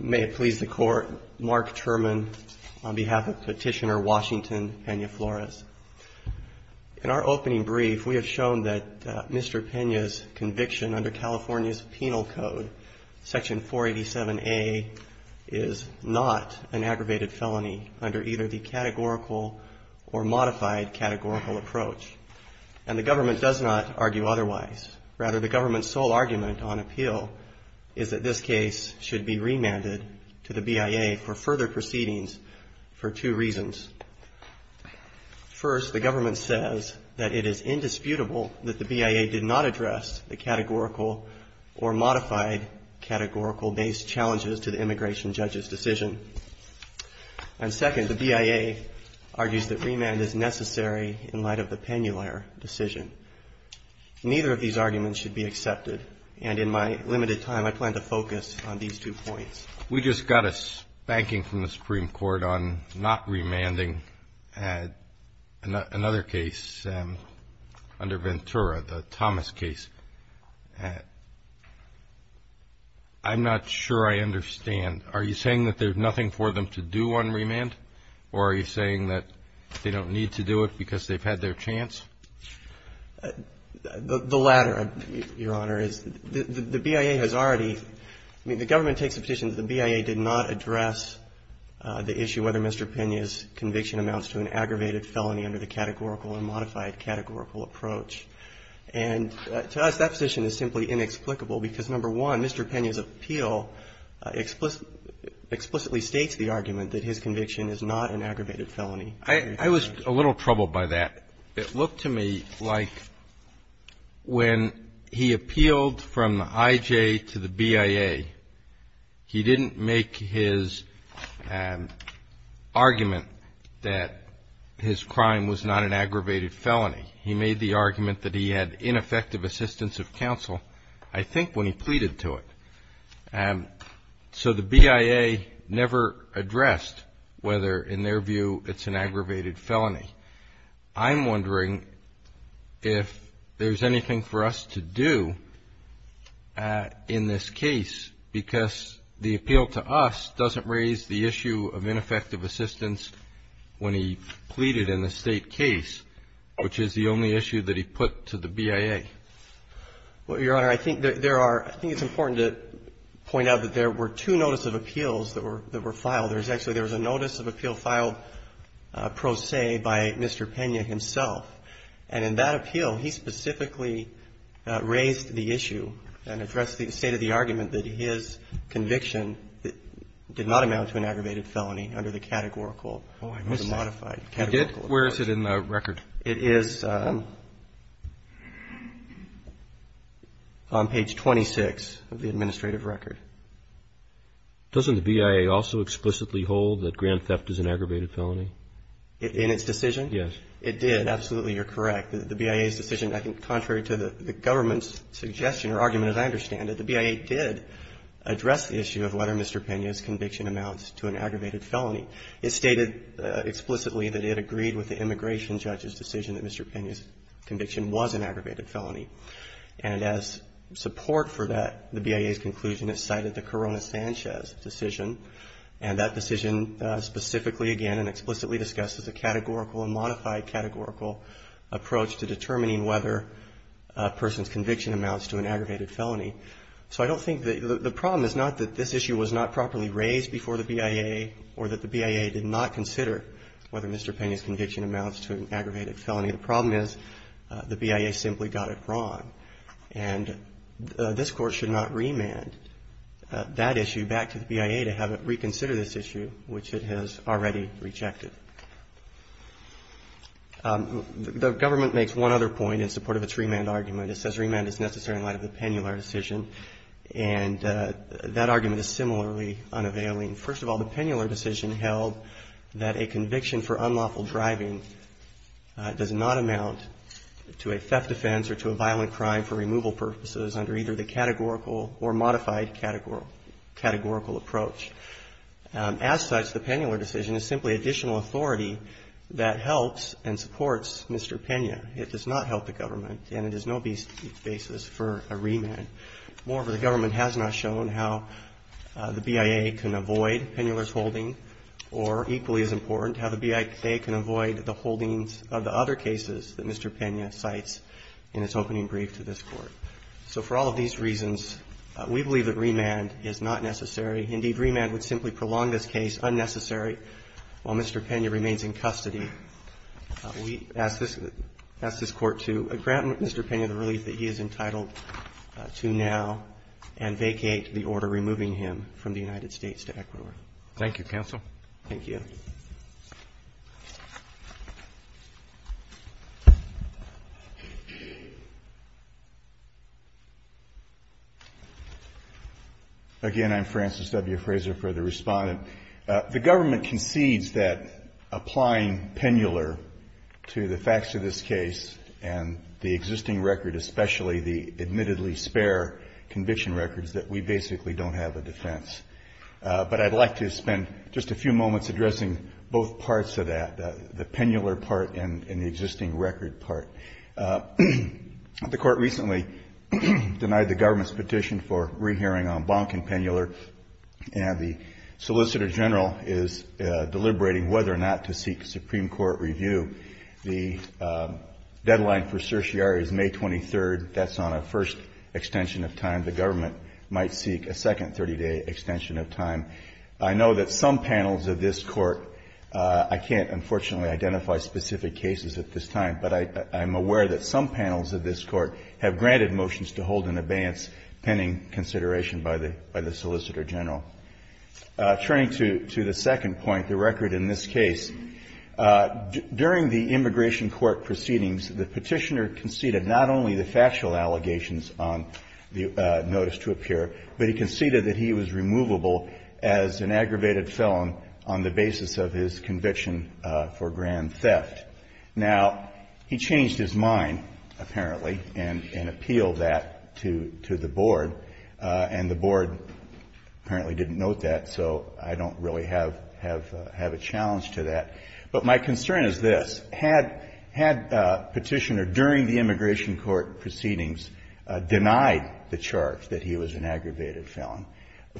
May it please the Court, Mark Turman on behalf of Petitioner Washington Pena-Flores. In our opening brief, we have shown that Mr. Pena's conviction under California's Penal Code, Section 487A, is not an aggravated felony under either the categorical or modified categorical approach, and the government does not argue otherwise. Rather, the government's sole argument on appeal is that this case should be remanded to the BIA for further proceedings for two reasons. First, the government says that it is indisputable that the BIA did not address the categorical or modified categorical-based challenges to the immigration judge's decision. And second, the BIA argues that remand is necessary in light of the Penular decision. Neither of these arguments should be accepted, and in my limited time I plan to focus on these two points. We just got a spanking from the Supreme Court on not remanding another case under Ventura, the Thomas case. I'm not sure I understand. Are you saying that there's nothing for them to do on remand, or are you saying that they don't need to do it because they've had their chance? The latter, Your Honor, is the BIA has already – I mean, the government takes the position that the BIA did not address the issue whether Mr. Pena's conviction amounts to an aggravated felony under the categorical or modified categorical approach. And to us, that position is simply inexplicable because, number one, Mr. Pena's appeal explicitly states the argument that his conviction is not an aggravated felony. I was a little troubled by that. It looked to me like when he appealed from the IJ to the BIA, he didn't make his argument that his crime was not an aggravated felony. He made the argument that he had ineffective assistance of counsel, I think, when he pleaded to it. So the BIA never addressed whether, in their view, it's an aggravated felony. I'm wondering if there's anything for us to do in this case because the appeal to us doesn't raise the issue of ineffective assistance when he pleaded in the State case, which is the only issue that he put to the BIA. Well, Your Honor, I think there are – I think it's important to point out that there were two notice of appeals that were filed. There was actually a notice of appeal filed pro se by Mr. Pena himself. And in that appeal, he specifically raised the issue and addressed the state of the argument that his conviction did not amount to an aggravated felony under the categorical or the modified categorical approach. Where is it in the record? It is on page 26 of the administrative record. Doesn't the BIA also explicitly hold that grand theft is an aggravated felony? In its decision? Yes. It did. Absolutely, you're correct. The BIA's decision, I think, contrary to the government's suggestion or argument, as I understand it, the BIA did address the issue of whether Mr. Pena's conviction amounts to an aggravated felony. It stated explicitly that it agreed with the immigration judge's decision that Mr. Pena's conviction was an aggravated felony. And as support for that, the BIA's conclusion is cited the Corona-Sanchez decision. And that decision specifically, again, and explicitly discussed as a categorical and modified categorical approach to determining whether a person's conviction amounts to an aggravated felony. So I don't think that – the problem is not that this issue was not properly raised before the BIA or that the BIA did not consider whether Mr. Pena's conviction amounts to an aggravated felony. The problem is the BIA simply got it wrong. And this Court should not remand that issue back to the BIA to have it reconsider this issue, which it has already rejected. The government makes one other point in support of its remand argument. It says remand is necessary in light of the Penular decision. And that argument is similarly unavailing. First of all, the Penular decision held that a conviction for unlawful driving does not amount to a theft offense or to a violent crime for removal purposes under either the categorical or modified categorical approach. As such, the Penular decision is simply additional authority that helps and supports Mr. Pena. It does not help the government and it is no basis for a remand. Moreover, the government has not shown how the BIA can avoid Penular's holding or, equally as important, how the BIA can avoid the holdings of the other cases that Mr. Pena cites in its opening brief to this Court. So for all of these reasons, we believe that remand is not necessary. Indeed, remand would simply prolong this case unnecessarily while Mr. Pena remains in custody. We ask this Court to grant Mr. Pena the relief that he is entitled to now and vacate the order removing him from the United States to Ecuador. Thank you, counsel. Thank you. Again, I'm Francis W. Fraser for the Respondent. The government concedes that applying Penular to the facts of this case and the existing record, especially the admittedly spare conviction records, that we basically don't have a defense. But I'd like to spend just a few moments addressing both parts of that, the Penular part and the existing record part. The Court recently denied the government's petition for re-hearing on Bonk and Penular and the Solicitor General is deliberating whether or not to seek Supreme Court review. The deadline for certiorari is May 23rd. That's on a first extension of time. The government might seek a second 30-day extension of time. I know that some panels of this Court, I can't, unfortunately, identify specific cases at this time, but I'm aware that some panels of this Court have granted motions to hold an abeyance pending consideration by the Solicitor General. Turning to the second point, the record in this case, during the immigration court proceedings, the petitioner conceded not only the factual allegations on the notice to appear, but he conceded that he was removable as an aggravated felon on the basis of his conviction for grand theft. Now, he changed his mind, apparently, and appealed that to the Board, and the Board apparently didn't note that, so I don't really have a challenge to that. But my concern is this. Had Petitioner, during the immigration court proceedings, denied the charge that he was an aggravated felon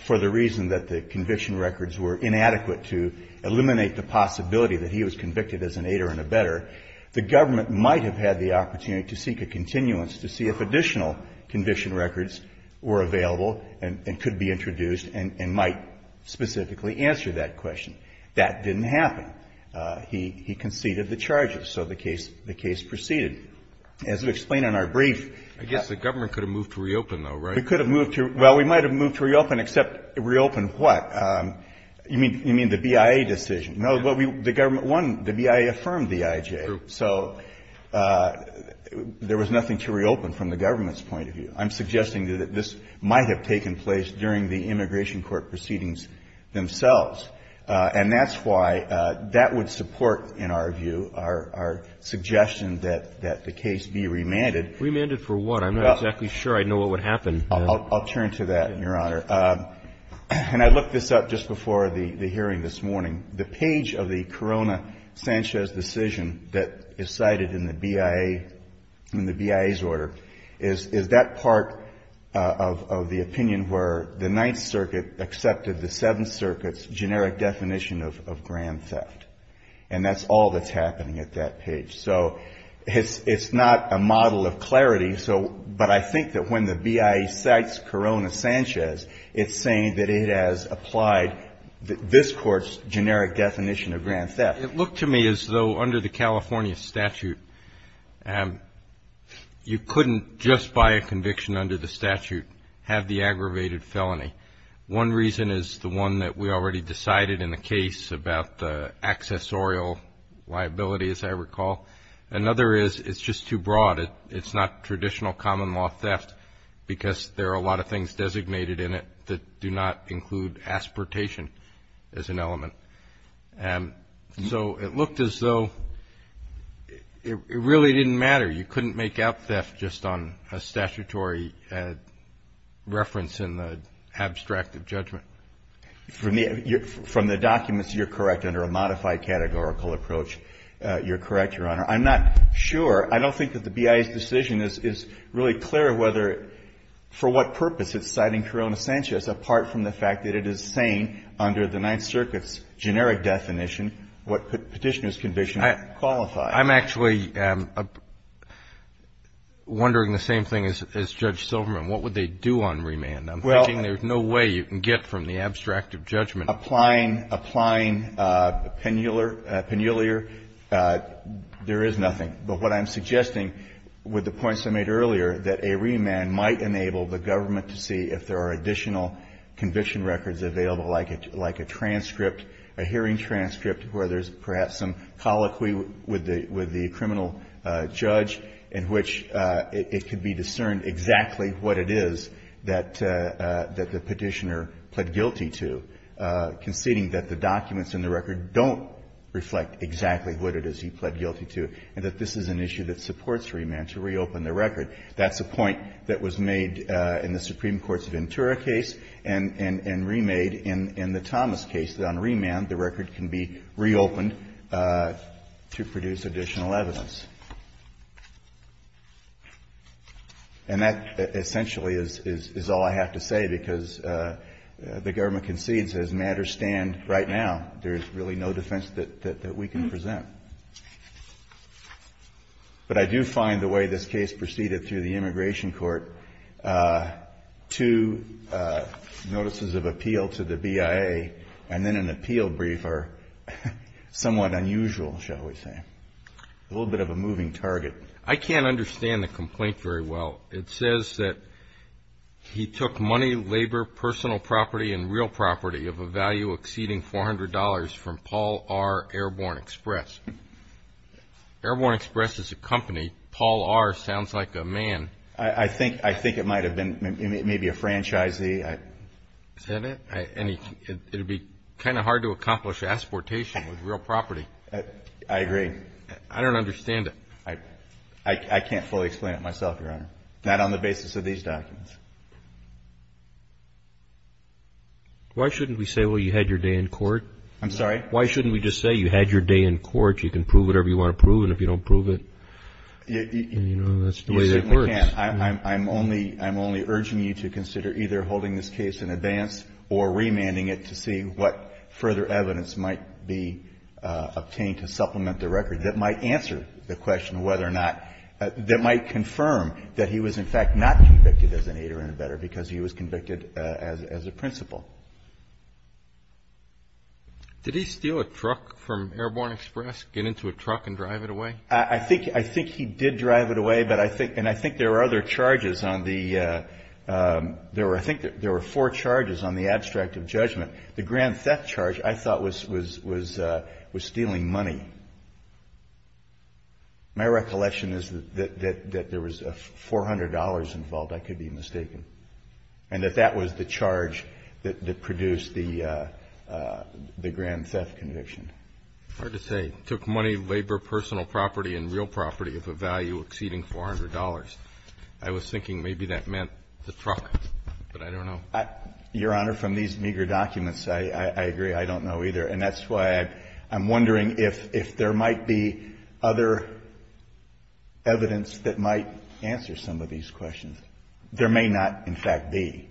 for the reason that the conviction records were inadequate to eliminate the possibility that he was convicted as an aider and a better, the government might have had the opportunity to seek a continuance to see if additional conviction records were available and could be introduced and might specifically answer that question. That didn't happen. He conceded the charges. So the case proceeded. As we explain in our brief, yes. Kennedy. I guess the government could have moved to reopen, though, right? We could have moved to – well, we might have moved to reopen, except reopen what? You mean the BIA decision? No, the government – one, the BIA affirmed the IJ. True. So there was nothing to reopen from the government's point of view. I'm suggesting that this might have taken place during the immigration court proceedings themselves. And that's why that would support, in our view, our suggestion that the case be remanded. Remanded for what? I'm not exactly sure I know what would happen. I'll turn to that, Your Honor. And I looked this up just before the hearing this morning. The page of the Corona-Sanchez decision that is cited in the BIA – in the BIA's order is that part of the opinion where the Ninth Circuit accepted the Seventh Circuit's generic definition of grand theft. And that's all that's happening at that page. So it's not a model of clarity. So – but I think that when the BIA cites Corona-Sanchez, it's saying that it has applied this court's generic definition of grand theft. It looked to me as though under the California statute you couldn't just by a conviction under the statute have the aggravated felony. One reason is the one that we already decided in the case about the accessorial liability, as I recall. Another is it's just too broad. It's not traditional common law theft because there are a lot of things designated in it that do not include aspartation as an element. And so it looked as though it really didn't matter. You couldn't make out theft just on a statutory reference in the abstract of judgment. From the documents, you're correct. Under a modified categorical approach, you're correct, Your Honor. I'm not sure. I don't think that the BIA's decision is really clear whether, for what purpose, it's citing Corona-Sanchez apart from the fact that it is saying under the Ninth Circuit's generic definition what Petitioner's conviction qualifies. I'm actually wondering the same thing as Judge Silverman. What would they do on remand? I'm thinking there's no way you can get from the abstract of judgment. Applying penuliar, there is nothing. But what I'm suggesting with the points I made earlier, that a remand might enable the government to see if there are additional conviction records available, like a transcript, a hearing transcript, where there's perhaps some colloquy with the criminal judge in which it could be discerned exactly what it is that the Petitioner pled guilty to, conceding that the documents in the record don't reflect exactly what it is he pled guilty to, and that this is an issue that supports remand to reopen the record. That's a point that was made in the Supreme Court's Ventura case and remade in the Thomas case, that on remand, the record can be reopened to produce additional evidence. And that essentially is all I have to say, because the government concedes, as matters stand right now, there's really no defense that we can present. But I do find the way this case proceeded through the Immigration Court, two notices of appeal to the BIA and then an appeal brief are somewhat unusual, shall we say. A little bit of a moving target. I can't understand the complaint very well. It says that he took money, labor, personal property and real property of a value exceeding $400 from Paul R. Airborne Express. Airborne Express is a company. Paul R. sounds like a man. I think it might have been maybe a franchisee. Is that it? It would be kind of hard to accomplish exportation with real property. I agree. I don't understand it. I can't fully explain it myself, Your Honor. Not on the basis of these documents. Why shouldn't we say, well, you had your day in court? I'm sorry? Why shouldn't we just say you had your day in court, you can prove whatever you want to prove, and if you don't prove it, you know, that's the way that works. You certainly can't. I'm only urging you to consider either holding this case in advance or remanding it to see what further evidence might be obtained to supplement the record that might answer the question whether or not, that might confirm that he was, in fact, not convicted as an aider-in-a-bedder because he was convicted as a principal. Did he steal a truck from Airborne Express, get into a truck and drive it away? I think he did drive it away, but I think, and I think there were other charges on the, there were, I think there were four charges on the abstract of judgment. The grand theft charge, I thought, was stealing money. My recollection is that there was $400 involved, I could be mistaken, and that that was the charge that produced the grand theft conviction. It's hard to say. It took money, labor, personal property, and real property of a value exceeding $400. I was thinking maybe that meant the truck, but I don't know. Your Honor, from these meager documents, I agree. I don't know either. And that's why I'm wondering if there might be other evidence that might answer some of these questions. There may not, in fact, be.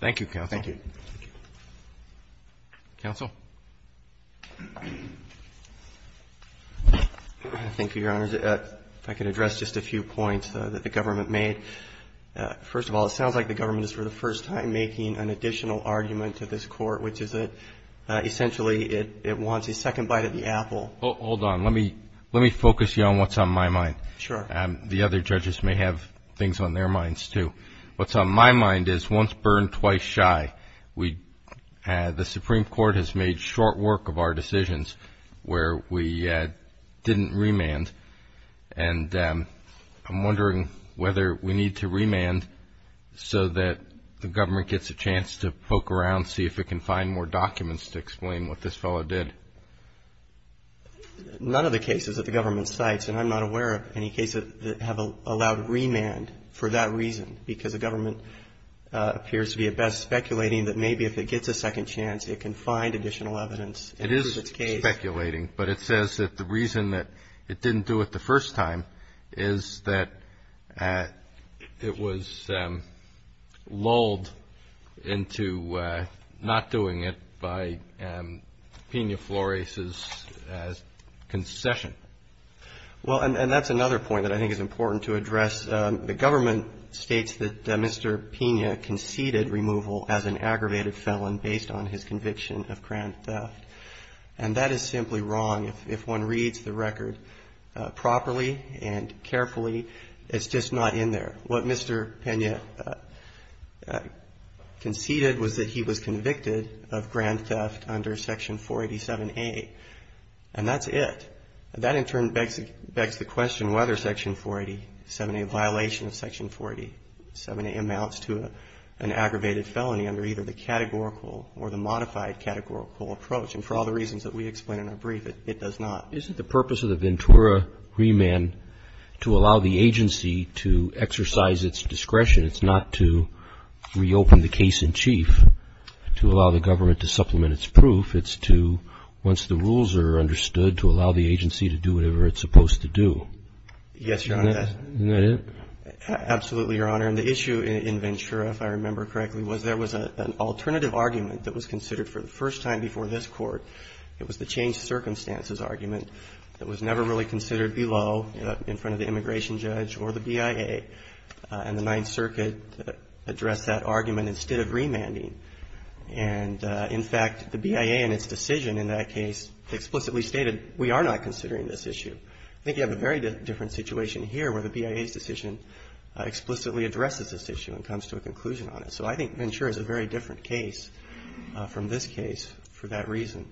Thank you, counsel. Thank you. Counsel. Thank you, Your Honor. If I could address just a few points that the government made. First of all, it sounds like the government is for the first time making an additional argument to this court, which is that essentially it wants a second bite of the apple. Hold on. Let me focus you on what's on my mind. Sure. The other judges may have things on their minds, too. What's on my mind is once burned, twice shy. The Supreme Court has made short work of our decisions where we didn't remand. And I'm wondering whether we need to remand so that the government gets a chance to poke around, see if it can find more documents to explain what this fellow did. None of the cases that the government cites, and I'm not aware of any cases that have allowed remand for that reason, because the government appears to be at best speculating that maybe if it gets a second chance, it can find additional evidence. It is speculating, but it says that the reason that it didn't do it the first time is that it was lulled into not doing it by Pena Flores' concession. Well, and that's another point that I think is important to address. The government states that Mr. Pena conceded removal as an aggravated felon based on his conviction of grand theft. And that is simply wrong. If one reads the record properly and carefully, it's just not in there. What Mr. Pena conceded was that he was convicted of grand theft under Section 487A, and that's it. That in turn begs the question whether Section 487A, a violation of Section 487A, amounts to an aggravated felony under either the categorical or the modified categorical approach. And for all the reasons that we explain in our brief, it does not. Isn't the purpose of the Ventura remand to allow the agency to exercise its discretion? It's not to reopen the case in chief, to allow the government to supplement its proof. It's to, once the rules are understood, to allow the agency to do whatever it's supposed to do. Yes, Your Honor. Isn't that it? Absolutely, Your Honor. And the issue in Ventura, if I remember correctly, was there was an alternative argument that was considered for the first time before this Court. It was the changed circumstances argument that was never really considered below in front of the immigration judge or the BIA and the Ninth Circuit addressed that argument instead of remanding. And, in fact, the BIA in its decision in that case explicitly stated we are not considering this issue. I think you have a very different situation here where the BIA's decision explicitly addresses this issue and comes to a conclusion on it. So I think Ventura is a very different case from this case for that reason.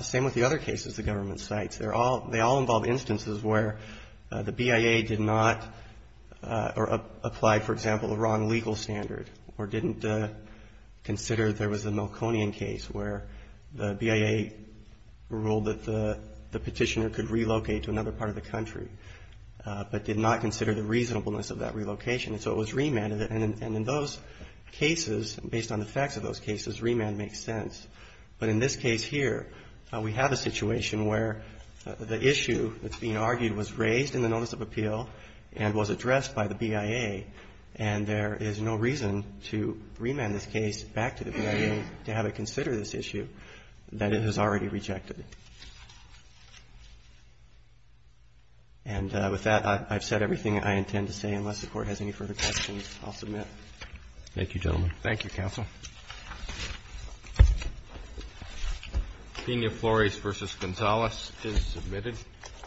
Same with the other cases the government cites. They're all they all involve instances where the BIA did not apply, for example, a wrong legal standard or didn't consider there was a Malconian case where the BIA ruled that the petitioner could relocate to another part of the country but did not consider the reasonableness of that relocation. And so it was remanded. And in those cases, based on the facts of those cases, remand makes sense. But in this case here, we have a situation where the issue that's being argued was raised in the Notice of Appeal and was addressed by the BIA, and there is no reason to remand this case back to the BIA to have it consider this issue that it has already rejected. And with that, I've said everything I intend to say. Unless the Court has any further questions, I'll submit. Roberts. Thank you, gentlemen. Thank you, counsel. Pena-Flores v. Gonzales is submitted.